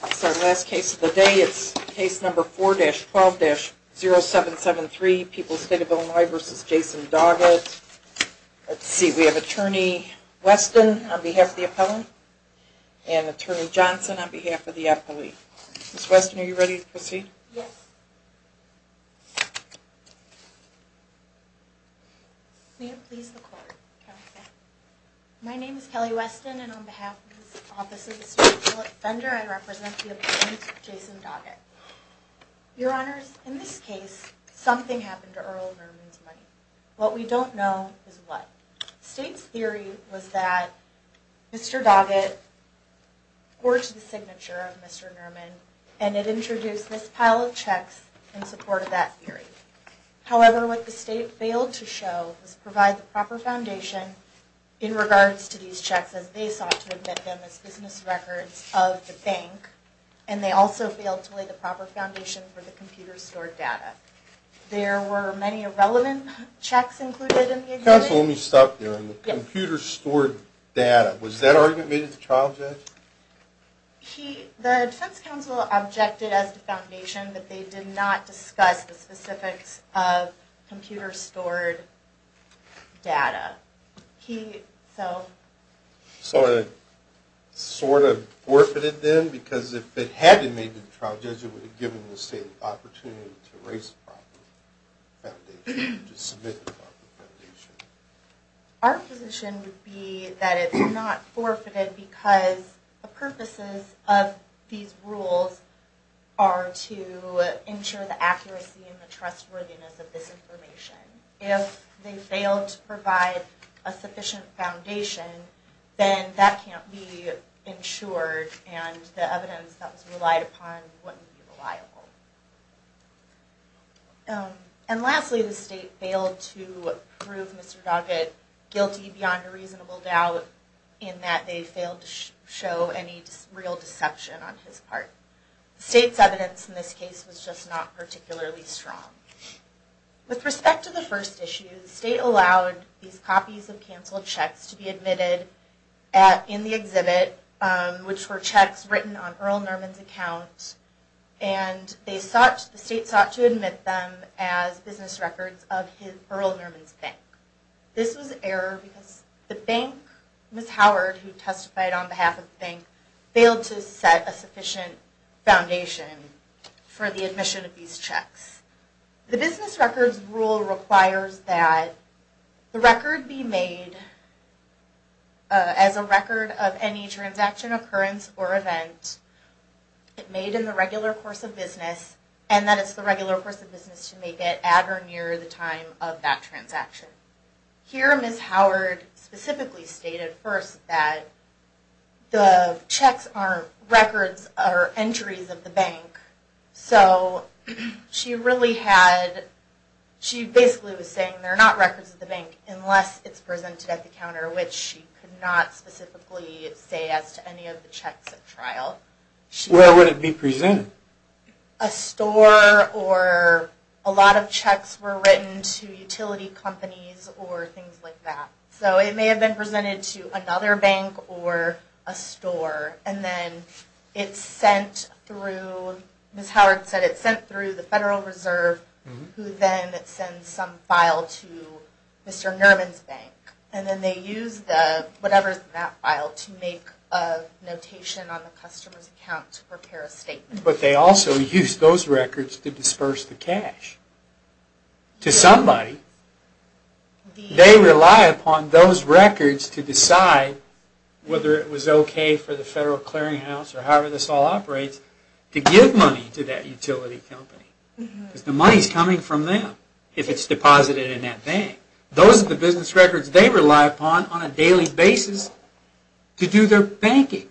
That's our last case of the day. It's case number 4-12-0773, People's State of Illinois v. Jason Doggett. Let's see, we have Attorney Weston on behalf of the appellant and Attorney Johnson on behalf of the appellee. Ms. Weston, are you ready to proceed? Yes. May it please the Court. My name is Kelly Weston, and on behalf of the Office of the State Appeal Offender, I represent the appellant, Jason Doggett. Your Honors, in this case, something happened to Earl Nerman's money. What we don't know is what. The State's theory was that Mr. Doggett forged the signature of Mr. Nerman, and it introduced this pile of checks in support of that theory. However, what the State failed to show was provide the proper foundation in regards to these checks as they sought to admit them as business records of the bank, and they also failed to lay the proper foundation for the computer-stored data. There were many irrelevant checks included in the exhibit. The defense counsel only stopped there on the computer-stored data. Was that argument made at the trial judge? The defense counsel objected as to foundation that they did not discuss the specifics of computer-stored data. So it sort of forfeited then? Because if it had, maybe the trial judge would have given the State the opportunity to raise the proper foundation, to submit the proper foundation. Our position would be that it's not forfeited because the purposes of these rules are to ensure the accuracy and the trustworthiness of this information. If they failed to provide a sufficient foundation, then that can't be ensured and the evidence that was relied upon wouldn't be reliable. And lastly, the State failed to prove Mr. Doggett guilty beyond a reasonable doubt in that they failed to show any real deception on his part. The State's evidence in this case was just not particularly strong. With respect to the first issue, the State allowed these copies of canceled checks to be admitted in the exhibit, which were checks written on Earl Nerman's account. And the State sought to admit them as business records of Earl Nerman's bank. This was an error because the bank, Ms. Howard who testified on behalf of the bank, failed to set a sufficient foundation for the admission of these checks. The business records rule requires that the record be made as a record of any transaction, occurrence, or event made in the regular course of business, and that it's the regular course of business to make it at or near the time of that transaction. Here Ms. Howard specifically stated first that the checks aren't records or entries of the bank, so she really had, she basically was saying they're not records of the bank unless it's presented at the counter, which she could not specifically say as to any of the checks at trial. Where would it be presented? A store or a lot of checks were written to utility companies or things like that. So it may have been presented to another bank or a store, and then it's sent through, Ms. Howard said it's sent through the Federal Reserve, who then sends some file to Mr. Nerman's bank. And then they use the, whatever's in that file, to make a notation on the customer's account to prepare a statement. But they also use those records to disperse the cash to somebody. They rely upon those records to decide whether it was okay for the Federal Clearing House or however this all operates, to give money to that utility company. Because the money's coming from them if it's deposited in that bank. Those are the business records they rely upon on a daily basis to do their banking.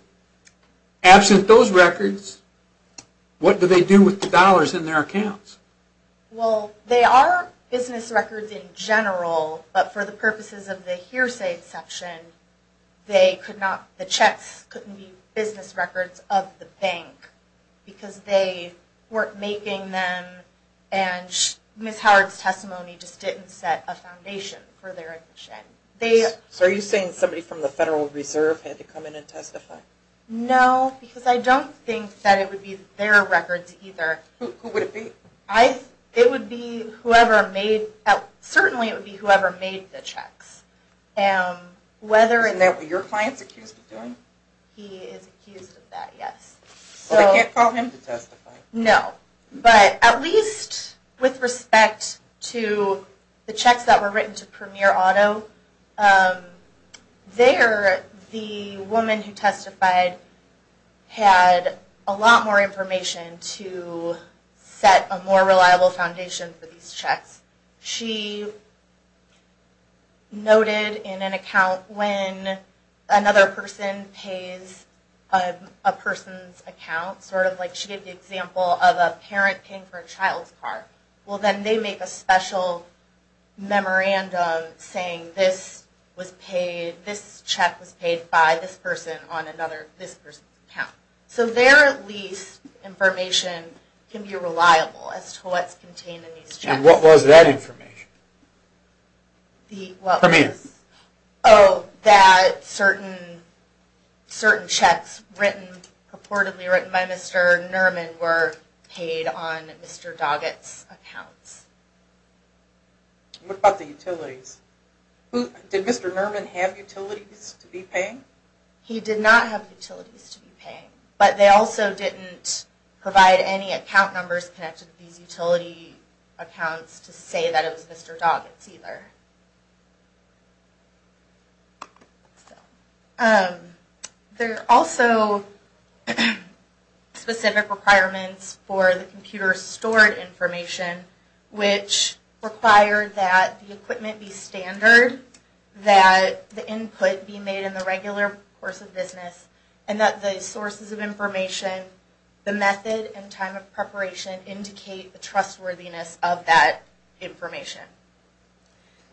Absent those records, what do they do with the dollars in their accounts? Well, they are business records in general, but for the purposes of the hearsay section, they could not, the checks couldn't be business records of the bank. Because they weren't making them, and Ms. Howard's testimony just didn't set a foundation for their admission. So are you saying somebody from the Federal Reserve had to come in and testify? No, because I don't think that it would be their records either. Who would it be? It would be whoever made, certainly it would be whoever made the checks. And that would be your client's accused of doing? He is accused of that, yes. So they can't call him to testify? No, but at least with respect to the checks that were written to Premier Auto, there the woman who testified had a lot more information to set a more reliable foundation for these checks. She noted in an account when another person pays a person's account, sort of like she gave the example of a parent paying for a child's car, well then they make a special memorandum saying this was paid, this check was paid by this person on another, this person's account. So there at least information can be reliable as to what's contained in these checks. And what was that information? The what was? Premier. Oh, that certain checks purportedly written by Mr. Nerman were paid on Mr. Doggett's account. What about the utilities? Did Mr. Nerman have utilities to be paying? He did not have utilities to be paying, but they also didn't provide any account numbers connected to these utility accounts to say that it was Mr. Doggett's either. There are also specific requirements for the computer stored information, which require that the equipment be standard, that the input be made in the regular course of business, and that the sources of information, the method and time of preparation, indicate the trustworthiness of that information.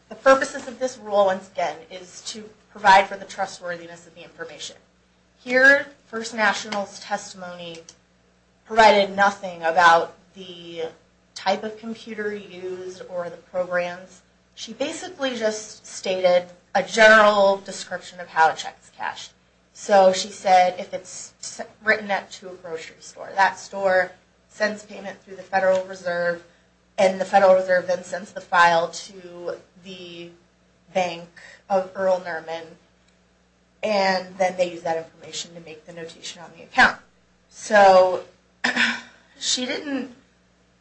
The purposes of this rule, once again, is to provide for the trustworthiness of the information. Here, First National's testimony provided nothing about the type of computer used or the programs. She basically just stated a general description of how to check this cash. So she said if it's written up to a grocery store, that store sends payment through the Federal Reserve, and the Federal Reserve then sends the file to the bank of Earl Nerman, and then they use that information to make the notation on the account. So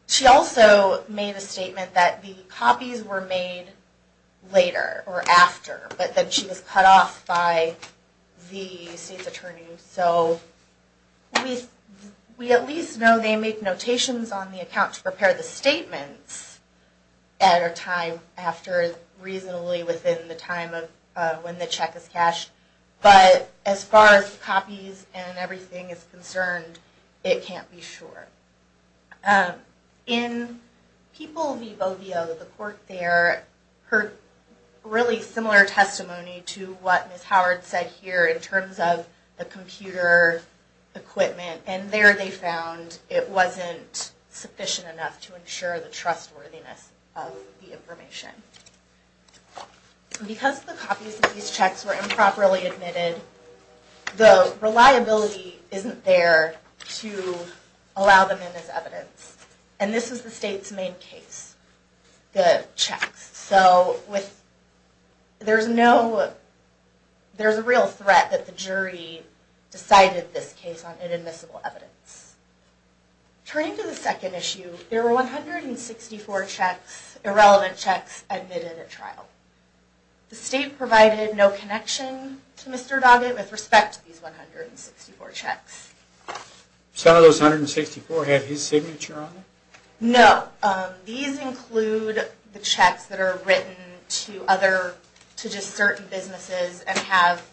she also made a statement that the copies were made later or after, but then she was cut off by the state's attorney. So we at least know they make notations on the account to prepare the statements at a time after, reasonably within the time of when the check is cashed. But as far as copies and everything is concerned, it can't be sure. In People v. Bovio, the court there heard really similar testimony to what Ms. Howard said here in terms of the computer equipment, and there they found it wasn't sufficient enough to ensure the trustworthiness of the information. Because the copies of these checks were improperly admitted, the reliability isn't there to allow them in as evidence. And this is the state's main case, the checks. So there's a real threat that the jury decided this case on inadmissible evidence. Turning to the second issue, there were 164 irrelevant checks admitted at trial. The state provided no connection to Mr. Doggett with respect to these 164 checks. So none of those 164 had his signature on them? No. These include the checks that are written to just certain businesses and have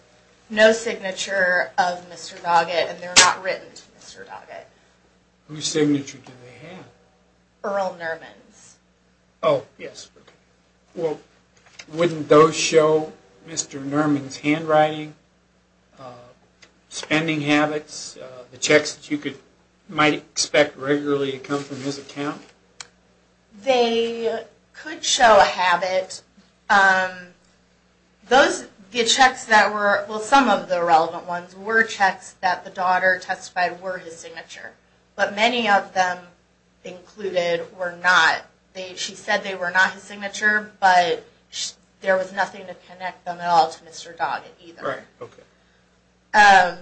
no signature of Mr. Doggett, and they're not written to Mr. Doggett. Whose signature do they have? Earl Nerman's. Oh, yes. Well, wouldn't those show Mr. Nerman's handwriting, spending habits, the checks that you might expect regularly to come from his account? They could show a habit. Those checks that were, well, some of the irrelevant ones were checks that the daughter testified were his signature, but many of them included were not. She said they were not his signature, but there was nothing to connect them at all to Mr. Doggett either. Right. Okay.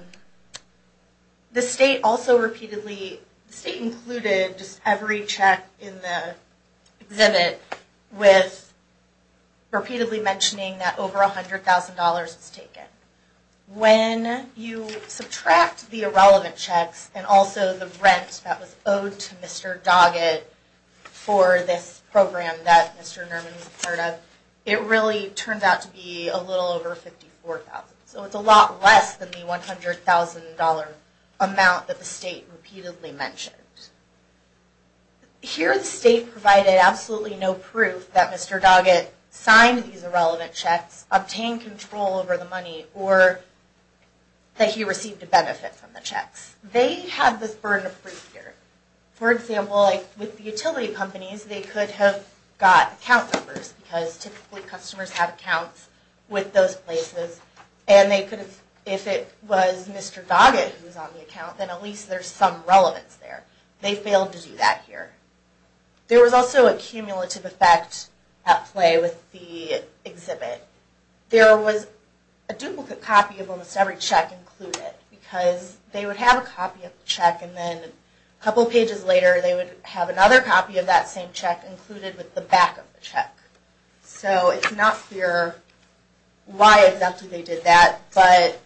The state also repeatedly, the state included just every check in the exhibit with repeatedly mentioning that over $100,000 was taken. When you subtract the irrelevant checks and also the rent that was owed to Mr. Doggett for this program that Mr. Nerman was a part of, it really turns out to be a little over $54,000. So it's a lot less than the $100,000 amount that the state repeatedly mentioned. Here the state provided absolutely no proof that Mr. Doggett signed these irrelevant checks, obtained control over the money, or that he received a benefit from the checks. They have this burden of proof here. For example, with the utility companies, they could have got account numbers because typically customers have accounts with those places, and they could have, if it was Mr. Doggett who was on the account, then at least there's some relevance there. They failed to do that here. There was also a cumulative effect at play with the exhibit. There was a duplicate copy of almost every check included because they would have a copy of the check and then a couple pages later they would have another copy of that same check included with the back of the check. So it's not clear why exactly they did that, but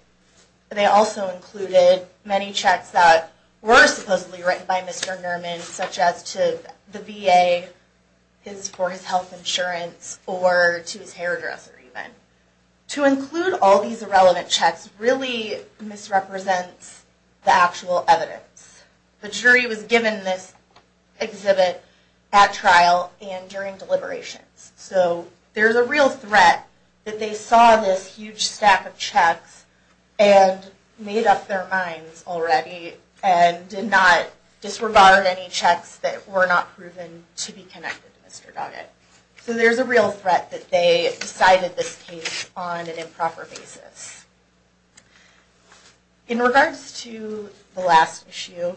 they also included many checks that were supposedly written by Mr. Nerman, such as to the VA for his health insurance or to his hairdresser even. To include all these irrelevant checks really misrepresents the actual evidence. The jury was given this exhibit at trial and during deliberations. So there's a real threat that they saw this huge stack of checks and made up their minds already and did not disregard any checks that were not proven to be connected to Mr. Doggett. So there's a real threat that they decided this case on an improper basis. In regards to the last issue,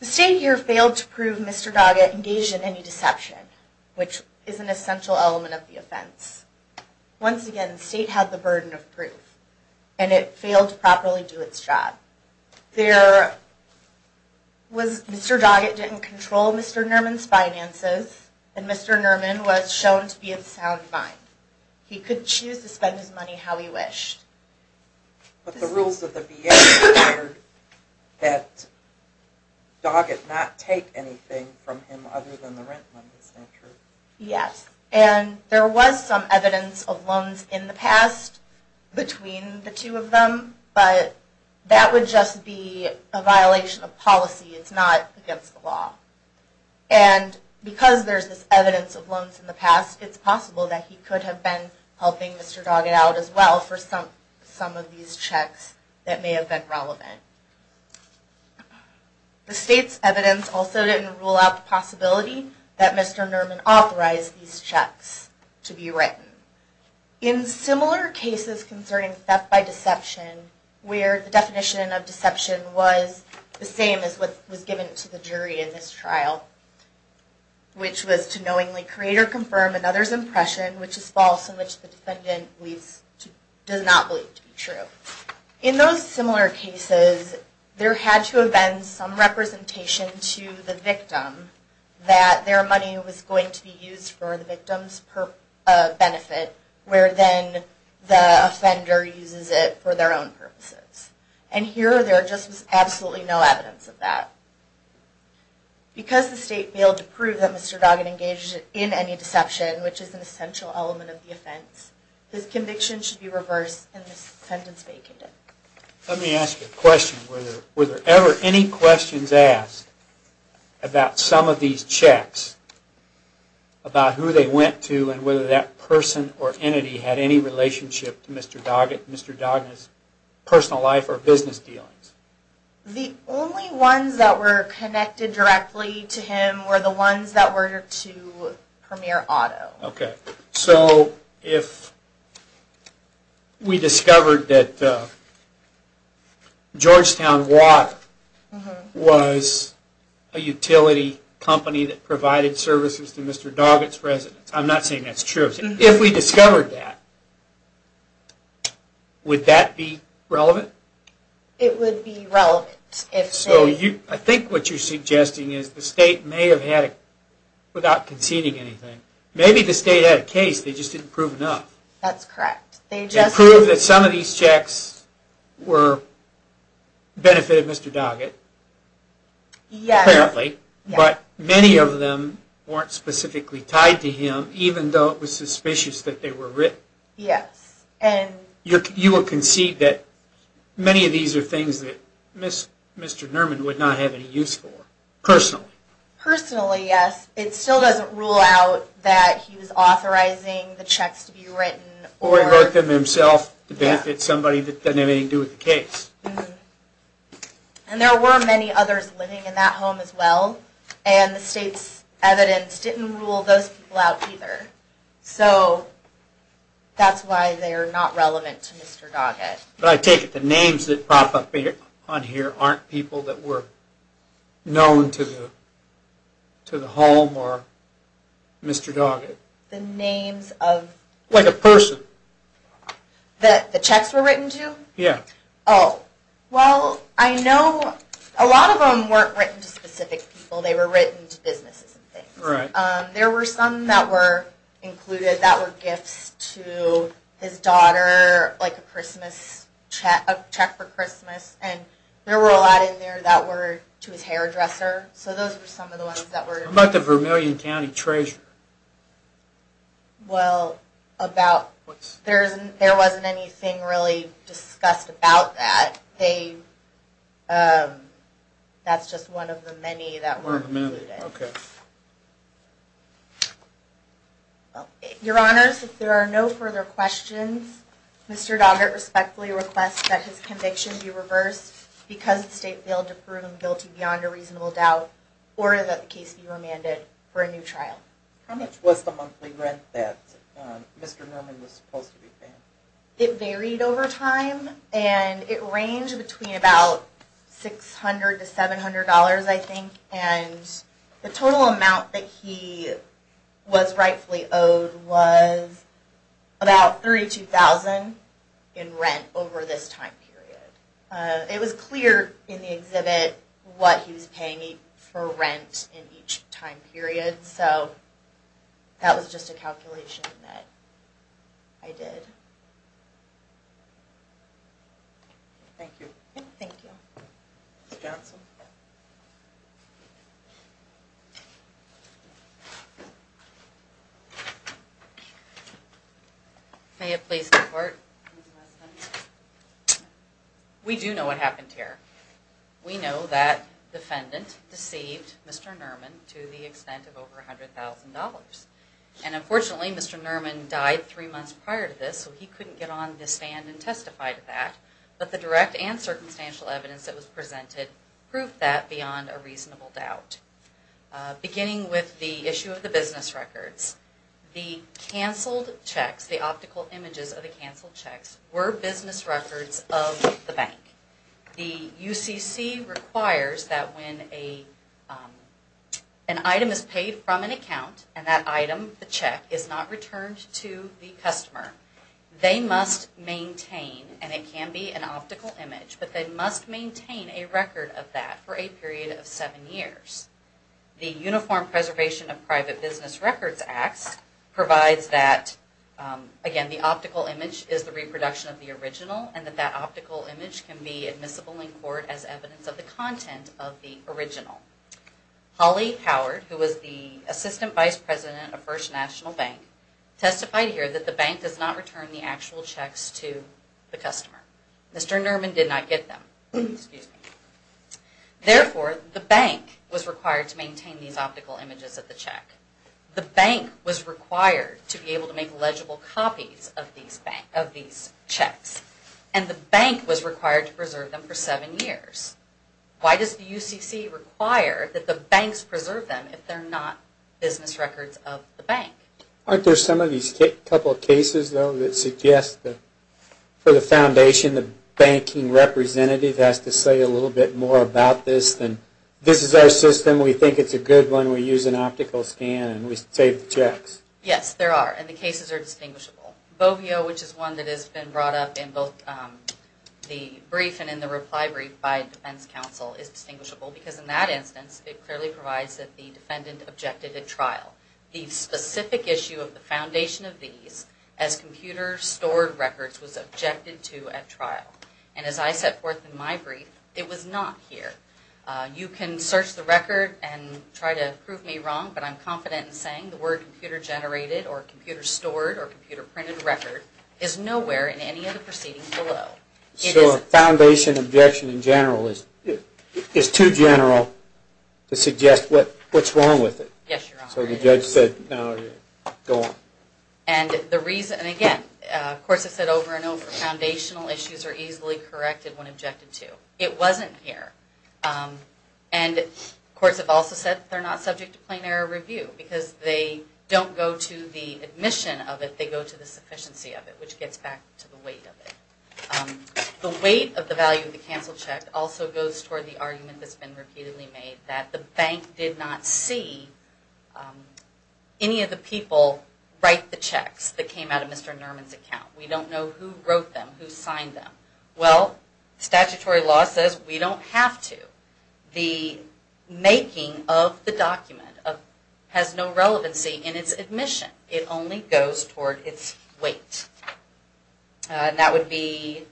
the state here failed to prove Mr. Doggett engaged in any deception, which is an essential element of the offense. Once again, the state had the burden of proof and it failed to properly do its job. Mr. Doggett didn't control Mr. Nerman's finances and Mr. Nerman was shown to be of sound mind. He could choose to spend his money how he wished. But the rules of the VA declared that Doggett not take anything from him other than the rent money, is that true? Yes, and there was some evidence of loans in the past between the two of them, but that would just be a violation of policy. It's not against the law. And because there's this evidence of loans in the past, it's possible that he could have been helping Mr. Doggett out as well for some of these checks that may have been relevant. The state's evidence also didn't rule out the possibility that Mr. Nerman authorized these checks to be written. In similar cases concerning theft by deception, where the definition of deception was the same as what was given to the jury in this trial, which was to knowingly create or confirm another's impression which is false and which the defendant does not believe to be true. In those similar cases, there had to have been some representation to the victim that their money was going to be used for the victim's benefit, where then the offender uses it for their own purposes. And here, there just was absolutely no evidence of that. Because the state failed to prove that Mr. Doggett engaged in any deception, which is an essential element of the offense, his conviction should be reversed and his sentence vacanted. Let me ask you a question. Were there ever any questions asked about some of these checks, about who they went to and whether that person or entity had any relationship to Mr. Doggett and Mr. Dognett's personal life or business dealings? The only ones that were connected directly to him were the ones that were to Premier Otto. Okay, so if we discovered that Georgetown Watt was a utility company that provided services to Mr. Doggett's residence, I'm not saying that's true. If we discovered that, would that be relevant? It would be relevant. So I think what you're suggesting is the state may have had it without conceding anything. Maybe the state had a case, they just didn't prove enough. That's correct. They just proved that some of these checks benefited Mr. Doggett, apparently, but many of them weren't specifically tied to him, even though it was suspicious that they were written. Yes. You would concede that many of these are things that Mr. Nerman would not have any use for, personally. Personally, yes. It still doesn't rule out that he was authorizing the checks to be written. Or he wrote them himself to benefit somebody that doesn't have anything to do with the case. And there were many others living in that home as well, and the state's evidence didn't rule those people out either. So that's why they're not relevant to Mr. Doggett. But I take it the names that pop up on here aren't people that were known to the home or Mr. Doggett. The names of… Like a person. That the checks were written to? Yeah. Oh. Well, I know a lot of them weren't written to specific people. They were written to businesses and things. Right. There were some that were included that were gifts to his daughter, like a Christmas check for Christmas, and there were a lot in there that were to his hairdresser. So those were some of the ones that were… What about the Vermilion County Treasurer? Well, about… There wasn't anything really discussed about that. That's just one of the many that weren't included. Okay. Your Honors, if there are no further questions, Mr. Doggett respectfully requests that his conviction be reversed because the state failed to prove him guilty beyond a reasonable doubt, or that the case be remanded for a new trial. How much was the monthly rent that Mr. Norman was supposed to be paying? It varied over time, and it ranged between about $600 to $700, I think, and the total amount that he was rightfully owed was about $32,000 in rent over this time period. It was clear in the exhibit what he was paying for rent in each time period, so that was just a calculation that I did. Thank you. Thank you. May it please the Court? We do know what happened here. We know that defendant deceived Mr. Norman to the extent of over $100,000. And unfortunately, Mr. Norman died three months prior to this, so he couldn't get on the stand and testify to that, but the direct and circumstantial evidence that was presented proved that beyond a reasonable doubt. Beginning with the issue of the business records, the canceled checks, the optical images of the canceled checks, were business records of the bank. The UCC requires that when an item is paid from an account, and that item, the check, is not returned to the customer, they must maintain, and it can be an optical image, but they must maintain a record of that for a period of seven years. The Uniform Preservation of Private Business Records Act provides that, again, the optical image is the reproduction of the original, and that that optical image can be admissible in court as evidence of the content of the original. Holly Howard, who was the Assistant Vice President of First National Bank, testified here that the bank does not return the actual checks to the customer. Mr. Norman did not get them. Therefore, the bank was required to maintain these optical images of the check. The bank was required to be able to make legible copies of these checks, and the bank was required to preserve them for seven years. Why does the UCC require that the banks preserve them if they're not business records of the bank? Aren't there some of these couple cases, though, that suggest that for the foundation, the banking representative has to say a little bit more about this than, this is our system, we think it's a good one, and then we use an optical scan and we save the checks? Yes, there are, and the cases are distinguishable. BOVIO, which is one that has been brought up in both the brief and in the reply brief by Defense Counsel, is distinguishable because in that instance, it clearly provides that the defendant objected at trial. The specific issue of the foundation of these, as computer-stored records, was objected to at trial. And as I set forth in my brief, it was not here. You can search the record and try to prove me wrong, but I'm confident in saying the word computer-generated or computer-stored or computer-printed record is nowhere in any of the proceedings below. So a foundation objection in general is too general to suggest what's wrong with it? Yes, Your Honor. So the judge said, no, go on. And the reason, and again, of course I've said over and over, foundational issues are easily corrected when objected to. It wasn't here. And courts have also said they're not subject to plain error review because they don't go to the admission of it. They go to the sufficiency of it, which gets back to the weight of it. The weight of the value of the cancel check also goes toward the argument that's been repeatedly made that the bank did not see any of the people write the checks that came out of Mr. Nerman's account. We don't know who wrote them, who signed them. Well, statutory law says we don't have to. The making of the document has no relevancy in its admission. It only goes toward its weight. And that would be,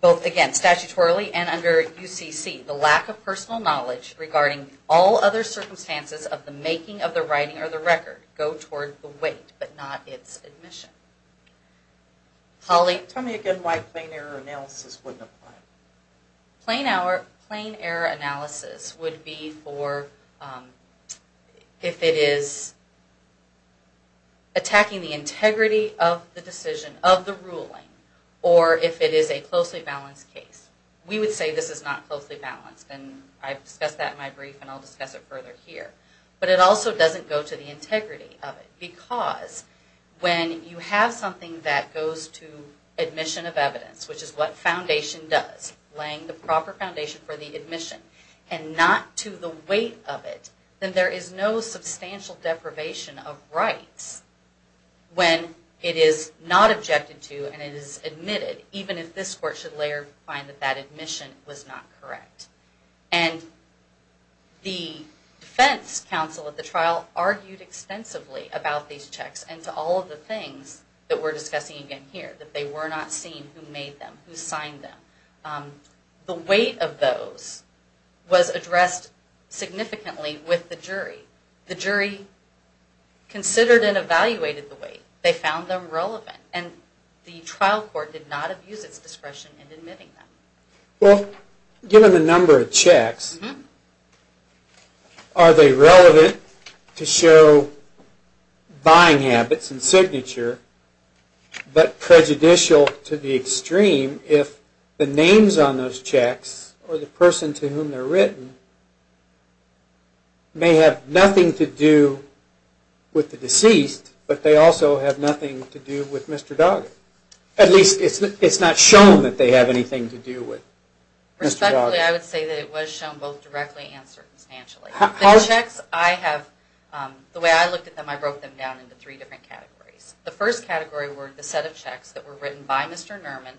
both again, statutorily and under UCC, the lack of personal knowledge regarding all other circumstances of the making of the writing or the record go toward the weight, but not its admission. Holly? Tell me again why plain error analysis wouldn't apply. Plain error analysis would be for if it is attacking the integrity of the decision, of the ruling, or if it is a closely balanced case. We would say this is not closely balanced, and I've discussed that in my brief and I'll discuss it further here. But it also doesn't go to the integrity of it because when you have something that goes to admission of evidence, which is what foundation does, laying the proper foundation for the admission, and not to the weight of it, then there is no substantial deprivation of rights when it is not objected to and it is admitted, even if this court should later find that that admission was not correct. And the defense counsel at the trial argued extensively about these checks and to all of the things that we're discussing again here, that they were not seen who made them, who signed them. The weight of those was addressed significantly with the jury. The jury considered and evaluated the weight. They found them relevant. And the trial court did not abuse its discretion in admitting them. Well, given the number of checks, are they relevant to show buying habits and signature, but prejudicial to the extreme if the names on those checks or the person to whom they're written may have nothing to do with the deceased, but they also have nothing to do with Mr. Doggett? At least it's not shown that they have anything to do with Mr. Doggett. Respectfully, I would say that it was shown both directly and circumstantially. The checks, I have, the way I looked at them, I broke them down into three different categories. The first category were the set of checks that were written by Mr. Nerman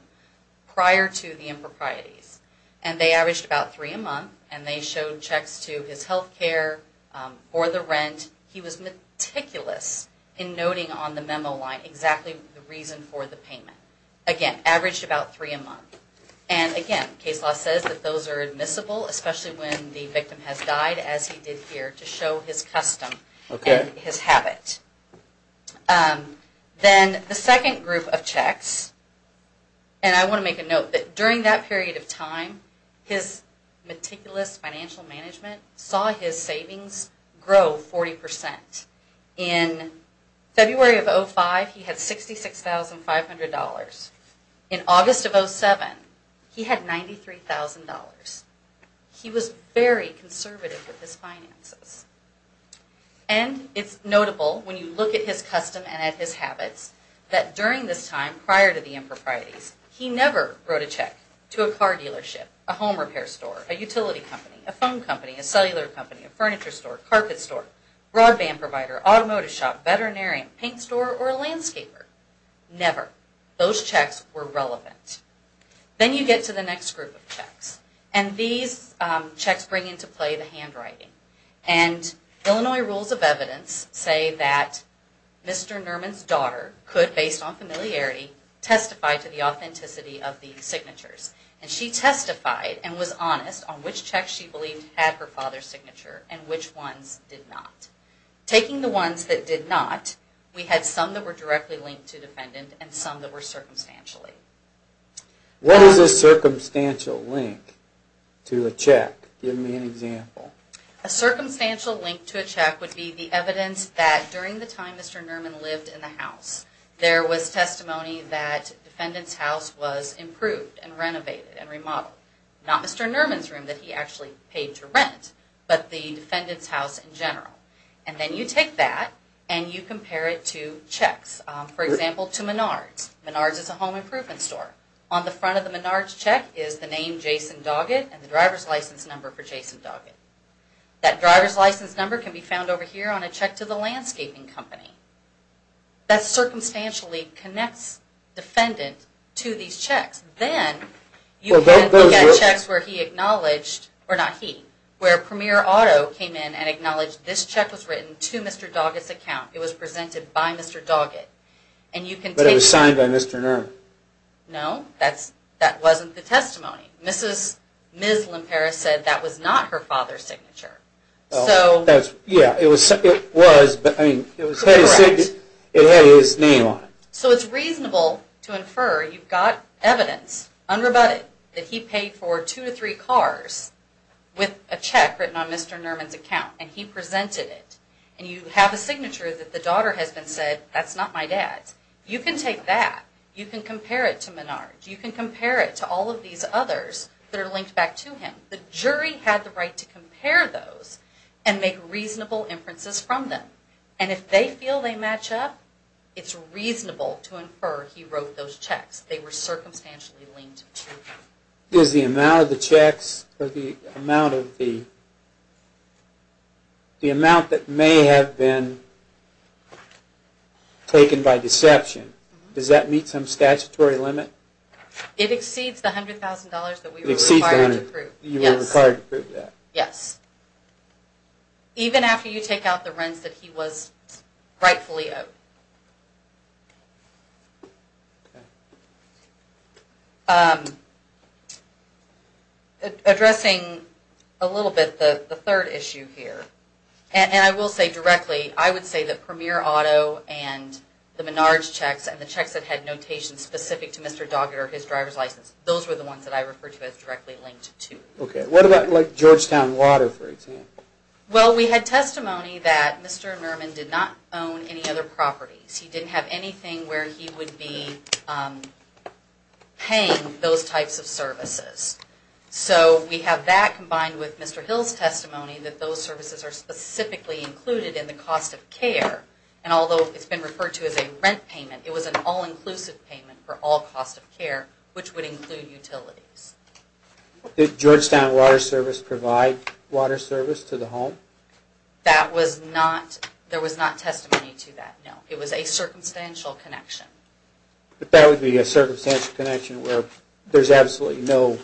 prior to the improprieties, and they averaged about three a month, and they showed checks to his health care or the rent. And he was meticulous in noting on the memo line exactly the reason for the payment. Again, averaged about three a month. And again, case law says that those are admissible, especially when the victim has died, as he did here, to show his custom and his habit. Then the second group of checks, and I want to make a note that during that period of time, his meticulous financial management saw his savings grow 40%. In February of 2005, he had $66,500. In August of 2007, he had $93,000. He was very conservative with his finances. And it's notable, when you look at his custom and at his habits, that during this time prior to the improprieties, he never wrote a check to a car dealership, a home repair store, a utility company, a phone company, a cellular company, a furniture store, a carpet store, broadband provider, automotive shop, veterinarian, paint store, or a landscaper. Never. Those checks were relevant. Then you get to the next group of checks. And these checks bring into play the handwriting. And Illinois rules of evidence say that Mr. Nerman's daughter could, based on familiarity, testify to the authenticity of these signatures. And she testified and was honest on which checks she believed had her father's signature and which ones did not. Taking the ones that did not, we had some that were directly linked to the defendant and some that were circumstantially. What is a circumstantial link to a check? Give me an example. A circumstantial link to a check would be the evidence that during the time Mr. Nerman lived in the house, there was testimony that the defendant's house was improved and renovated and remodeled. Not Mr. Nerman's room that he actually paid to rent, but the defendant's house in general. And then you take that and you compare it to checks. For example, to Menards. Menards is a home improvement store. On the front of the Menards check is the name Jason Doggett and the driver's license number for Jason Doggett. That driver's license number can be found over here on a check to the landscaping company. That circumstantially connects the defendant to these checks. Then you have checks where Premier Otto came in and acknowledged this check was written to Mr. Doggett's account. It was presented by Mr. Doggett. But it was signed by Mr. Nerman. No, that wasn't the testimony. Yeah, it was, but it had his name on it. So it's reasonable to infer you've got evidence, unrebutted, that he paid for two to three cars with a check written on Mr. Nerman's account, and he presented it. And you have a signature that the daughter has been said, that's not my dad's. You can take that. You can compare it to Menards. You can compare it to all of these others that are linked back to him. The jury had the right to compare those and make reasonable inferences from them. And if they feel they match up, it's reasonable to infer he wrote those checks. They were circumstantially linked. Is the amount of the checks or the amount that may have been taken by deception, does that meet some statutory limit? It exceeds the $100,000 that we were required to prove. You were required to prove that. Yes. Even after you take out the rents that he was rightfully owed. Addressing a little bit the third issue here, and I will say directly, I would say that Premier Auto and the Menards checks and the checks that had notations specific to Mr. Doggett or his driver's license, those were the ones that I refer to as directly linked to. What about Georgetown Water, for example? Well, we had testimony that Mr. Nerman did not own any other properties. He didn't have anything where he would be paying those types of services. So we have that combined with Mr. Hill's testimony that those services are specifically included in the cost of care. And although it's been referred to as a rent payment, it was an all-inclusive payment for all costs of care, which would include utilities. Did Georgetown Water Service provide water service to the home? There was not testimony to that, no. It was a circumstantial connection. But that would be a circumstantial connection where there's absolutely no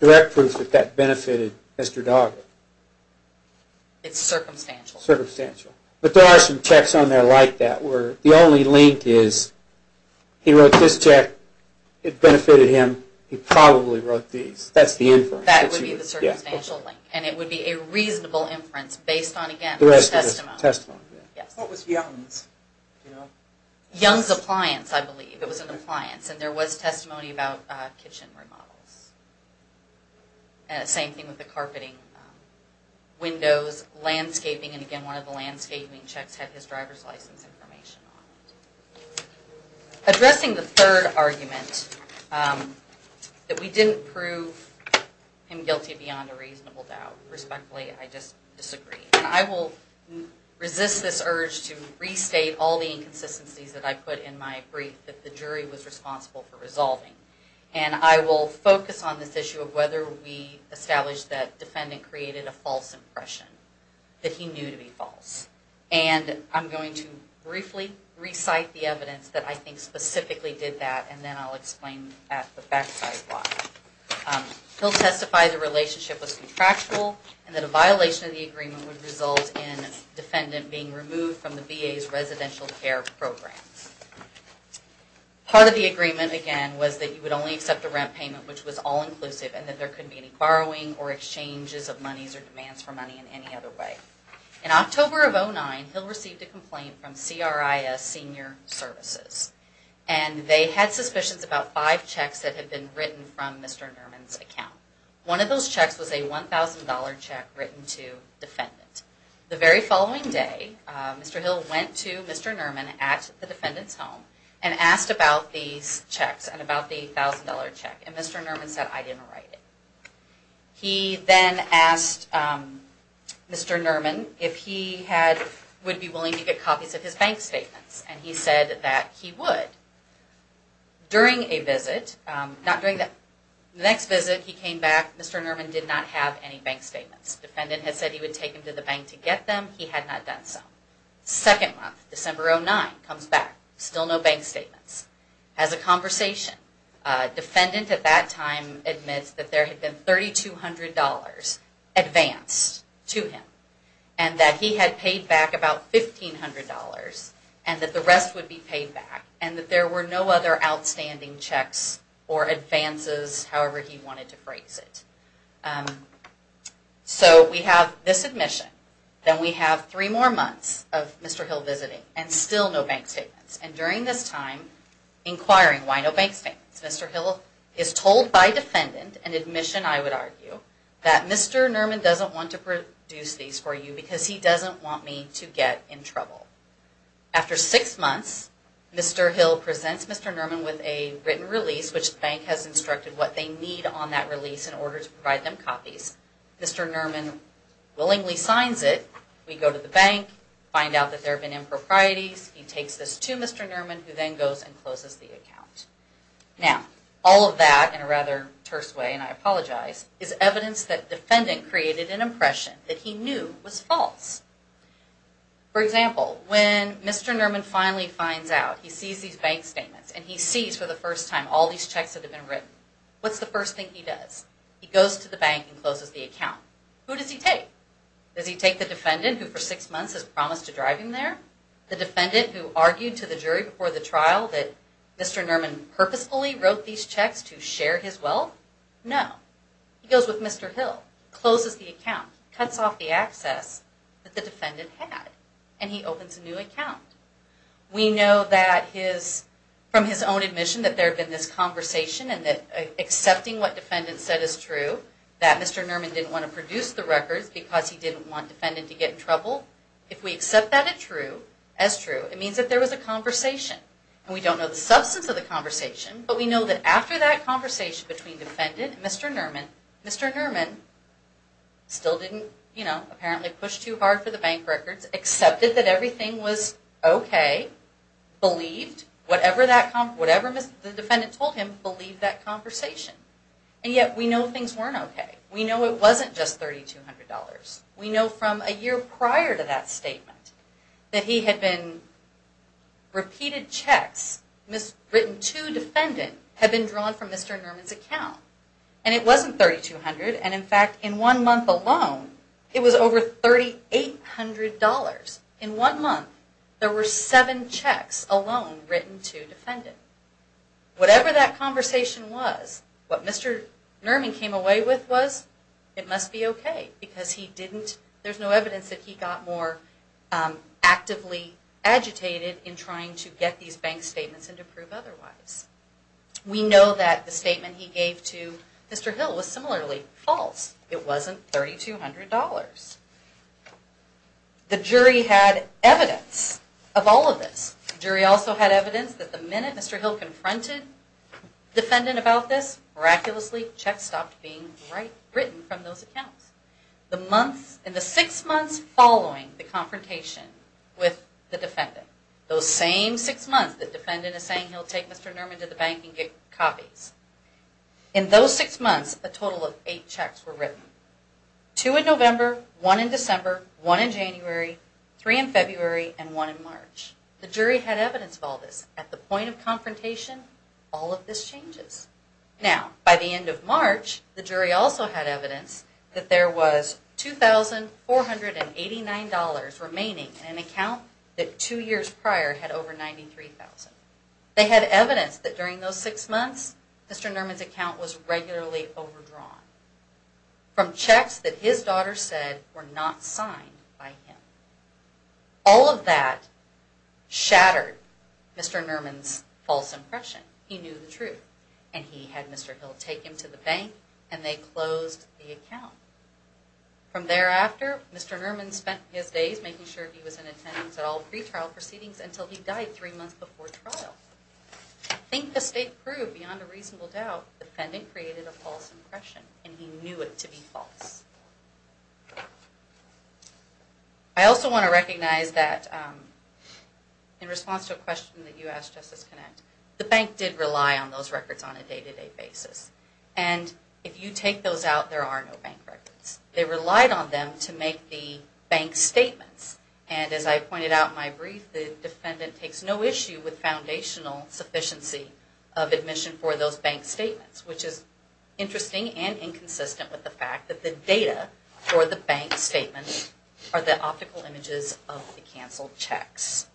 direct proof that that benefited Mr. Doggett. It's circumstantial. Circumstantial. But there are some checks on there like that where the only link is he wrote this check. It benefited him. He probably wrote these. That's the inference. That would be the circumstantial link. And it would be a reasonable inference based on, again, the testimony. What was Young's? Young's Appliance, I believe. It was an appliance. And there was testimony about kitchen remodels. Same thing with the carpeting, windows, landscaping. And again, one of the landscaping checks had his driver's license information on it. Addressing the third argument, that we didn't prove him guilty beyond a reasonable doubt. Respectfully, I just disagree. And I will resist this urge to restate all the inconsistencies that I put in my brief that the jury was responsible for resolving. And I will focus on this issue of whether we established that defendant created a false impression. That he knew to be false. And I'm going to briefly recite the evidence that I think specifically did that. And then I'll explain at the back side why. He'll testify the relationship was contractual and that a violation of the agreement would result in defendant being removed from the VA's residential care program. Part of the agreement, again, was that you would only accept a rent payment which was all inclusive and that there couldn't be any borrowing or exchanges of monies or demands for money in any other way. In October of 2009, Hill received a complaint from CRIS Senior Services. And they had suspicions about five checks that had been written from Mr. Nerman's account. One of those checks was a $1,000 check written to defendant. The very following day, Mr. Hill went to Mr. Nerman at the defendant's home and asked about these checks and about the $1,000 check. And Mr. Nerman said, I didn't write it. He then asked Mr. Nerman if he would be willing to get copies of his bank statements. And he said that he would. During a visit, the next visit he came back, Mr. Nerman did not have any bank statements. Defendant had said he would take them to the bank to get them. He had not done so. Second month, December of 2009, comes back. Still no bank statements. As a conversation, defendant at that time admits that there had been $3,200 advanced to him and that he had paid back about $1,500 and that the rest would be paid back and that there were no other outstanding checks or advances, however he wanted to phrase it. So we have this admission. Then we have three more months of Mr. Hill visiting and still no bank statements. And during this time, inquiring why no bank statements, Mr. Hill is told by defendant, an admission I would argue, that Mr. Nerman doesn't want to produce these for you because he doesn't want me to get in trouble. After six months, Mr. Hill presents Mr. Nerman with a written release which the bank has instructed what they need on that release in order to provide them copies. Mr. Nerman willingly signs it. We go to the bank, find out that there have been improprieties. He takes this to Mr. Nerman who then goes and closes the account. Now, all of that in a rather terse way, and I apologize, is evidence that defendant created an impression that he knew was false. For example, when Mr. Nerman finally finds out he sees these bank statements and he sees for the first time all these checks that have been written, what's the first thing he does? He goes to the bank and closes the account. Who does he take? Does he take the defendant who for six months has promised to drive him there? The defendant who argued to the jury before the trial that Mr. Nerman purposefully wrote these checks to share his wealth? No. He goes with Mr. Hill, closes the account, cuts off the access that the defendant had, and he opens a new account. We know from his own admission that there had been this conversation and that accepting what defendant said is true, that Mr. Nerman didn't want to produce the records because he didn't want defendant to get in trouble. If we accept that as true, it means that there was a conversation. And we don't know the substance of the conversation, but we know that after that conversation between defendant and Mr. Nerman, Mr. Nerman still didn't, you know, apparently push too hard for the bank records, accepted that everything was okay, believed whatever the defendant told him, believed that conversation. And yet we know things weren't okay. We know it wasn't just $3,200. We know from a year prior to that statement that he had been repeated checks written to defendant had been drawn from Mr. Nerman's account. And it wasn't $3,200. And, in fact, in one month alone, it was over $3,800. In one month, there were seven checks alone written to defendant. Whatever that conversation was, what Mr. Nerman came away with was, it must be okay because there's no evidence that he got more actively agitated in trying to get these bank statements and to prove otherwise. We know that the statement he gave to Mr. Hill was similarly false. It wasn't $3,200. The jury had evidence of all of this. The jury also had evidence that the minute Mr. Hill confronted defendant about this, miraculously, checks stopped being written from those accounts. In the six months following the confrontation with the defendant, those same six months the defendant is saying he'll take Mr. Nerman to the bank and get copies, in those six months, a total of eight checks were written. Two in November, one in December, one in January, three in February, and one in March. The jury had evidence of all this. At the point of confrontation, all of this changes. Now, by the end of March, the jury also had evidence that there was $2,489 remaining in an account that two years prior had over $93,000. They had evidence that during those six months, Mr. Nerman's account was regularly overdrawn from checks that his daughter said were not signed by him. All of that shattered Mr. Nerman's false impression. He knew the truth, and he had Mr. Hill take him to the bank, and they closed the account. From thereafter, Mr. Nerman spent his days making sure he was in attendance at all pretrial proceedings until he died three months before trial. I think the state proved, beyond a reasonable doubt, the defendant created a false impression, and he knew it to be false. I also want to recognize that in response to a question that you asked, Justice Connett, the bank did rely on those records on a day-to-day basis. And if you take those out, there are no bank records. They relied on them to make the bank statements. And as I pointed out in my brief, the defendant takes no issue with foundational sufficiency of admission for those bank statements, for the bank statements are the optical images of the canceled checks.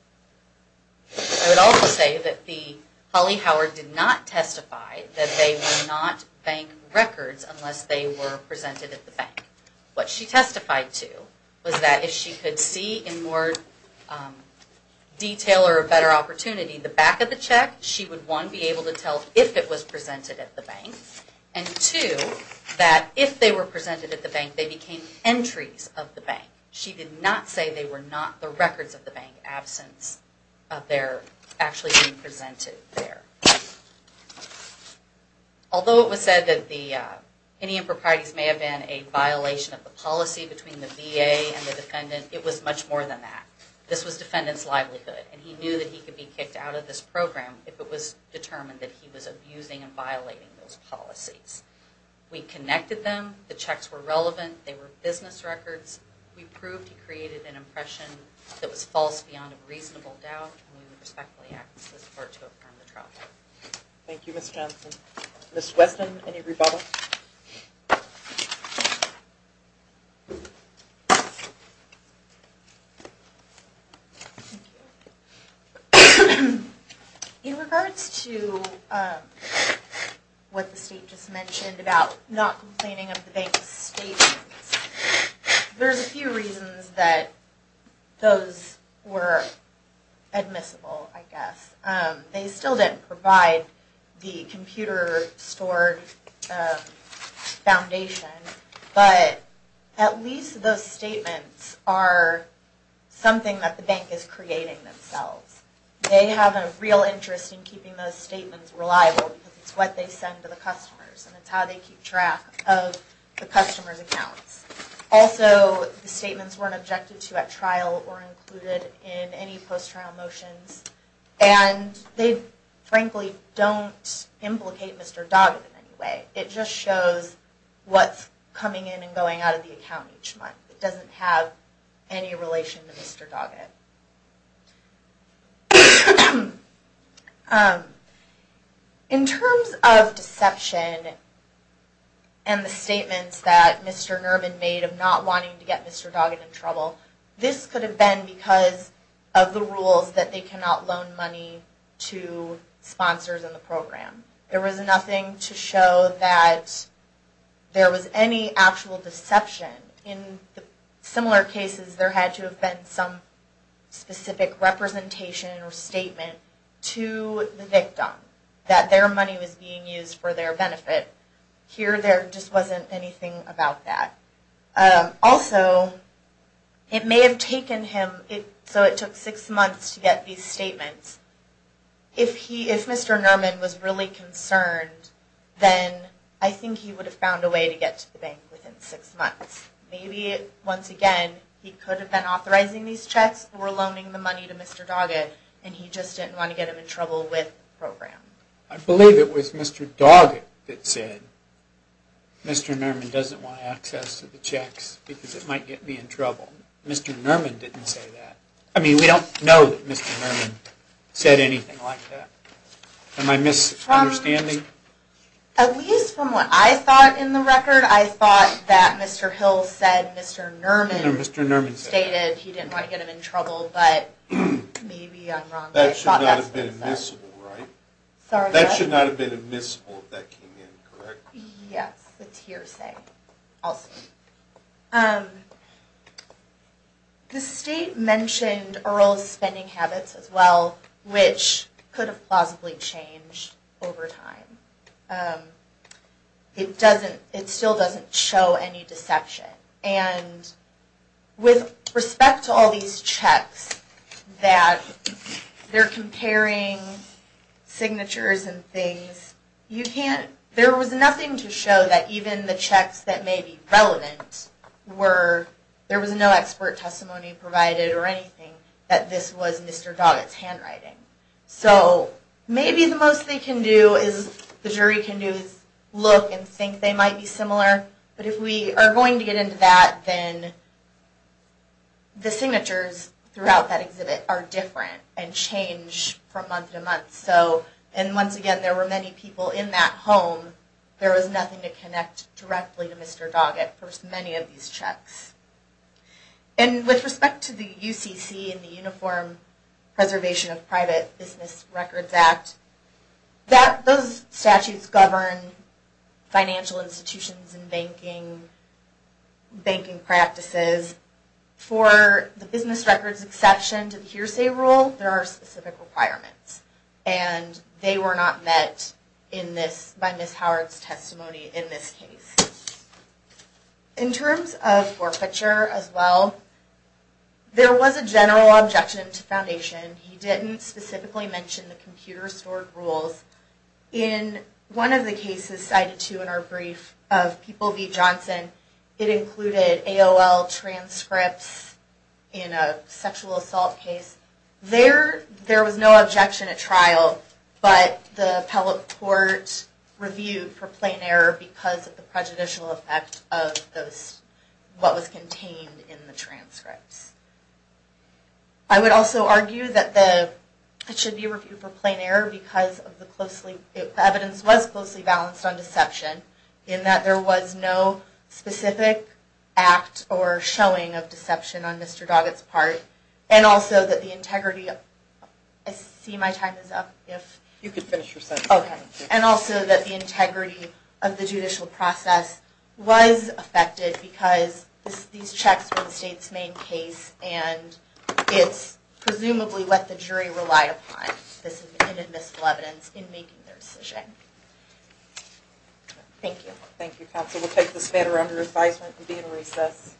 I would also say that Holly Howard did not testify that they would not bank records unless they were presented at the bank. What she testified to was that if she could see in more detail or a better opportunity the back of the check, she would, one, be able to tell if it was presented at the bank, and two, that if they were presented at the bank, they became entries of the bank. She did not say they were not the records of the bank, absence of their actually being presented there. Although it was said that any improprieties may have been a violation of the policy between the VA and the defendant, it was much more than that. This was defendant's livelihood, and he knew that he could be kicked out of this program if it was determined that he was abusing and violating those policies. We connected them, the checks were relevant, they were business records. We proved he created an impression that was false beyond a reasonable doubt, and we would respectfully ask for support to affirm the trial. Thank you, Ms. Johnson. Ms. Weston, any rebuttal? Thank you. In regards to what the state just mentioned about not complaining of the bank's statements, there's a few reasons that those were admissible, I guess. They still didn't provide the computer-stored foundation, but at least those statements are something that the bank is creating themselves. They have a real interest in keeping those statements reliable because it's what they send to the customers, and it's how they keep track of the customers' accounts. Also, the statements weren't objected to at trial or included in any post-trial motions. And they, frankly, don't implicate Mr. Doggett in any way. It just shows what's coming in and going out of the account each month. It doesn't have any relation to Mr. Doggett. In terms of deception and the statements that Mr. Nerman made of not wanting to get Mr. Doggett in trouble, this could have been because of the rules that they cannot loan money to sponsors in the program. There was nothing to show that there was any actual deception. In similar cases, there had to have been some specific representation or statement to the victim that their money was being used for their benefit. Here, there just wasn't anything about that. Also, it may have taken him, so it took six months to get these statements. If Mr. Nerman was really concerned, then I think he would have found a way to get to the bank within six months. Maybe, once again, he could have been authorizing these checks or loaning the money to Mr. Doggett, and he just didn't want to get him in trouble with the program. I believe it was Mr. Doggett that said, Mr. Nerman doesn't want access to the checks because it might get me in trouble. Mr. Nerman didn't say that. I mean, we don't know that Mr. Nerman said anything like that. Am I misunderstanding? At least from what I thought in the record, I thought that Mr. Hill said Mr. Nerman stated he didn't want to get him in trouble, but maybe I'm wrong. That should not have been admissible, right? Yes, it's hearsay. The state mentioned Earl's spending habits as well, which could have plausibly changed over time. It still doesn't show any deception. With respect to all these checks, that they're comparing signatures and things, there was nothing to show that even the checks that may be relevant were, there was no expert testimony provided or anything, that this was Mr. Doggett's handwriting. So maybe the most they can do is, the jury can do is look and think they might be similar, but if we are going to get into that, then the signatures throughout that exhibit are different and change from month to month. Once again, there were many people in that home. There was nothing to connect directly to Mr. Doggett for many of these checks. With respect to the UCC and the Uniform Preservation of Private Business Records Act, those statutes govern financial institutions and banking practices. For the business records exception to the hearsay rule, there are specific requirements, and they were not met by Ms. Howard's testimony in this case. In terms of forfeiture as well, there was a general objection to Foundation. He didn't specifically mention the computer stored rules. In one of the cases cited to in our brief of People v. Johnson, it included AOL transcripts in a sexual assault case. There was no objection at trial, but the appellate court reviewed for plain error because of the prejudicial effect of what was contained in the transcripts. I would also argue that it should be reviewed for plain error because the evidence was closely balanced on deception, in that there was no specific act or showing of deception on Mr. Doggett's part, and also that the integrity of the judicial process was affected because these checks were the state's main case and it's presumably what the jury relied upon in admissible evidence in making their decision. Thank you. Thank you, Counsel. We'll take this matter under advisement and be in recess.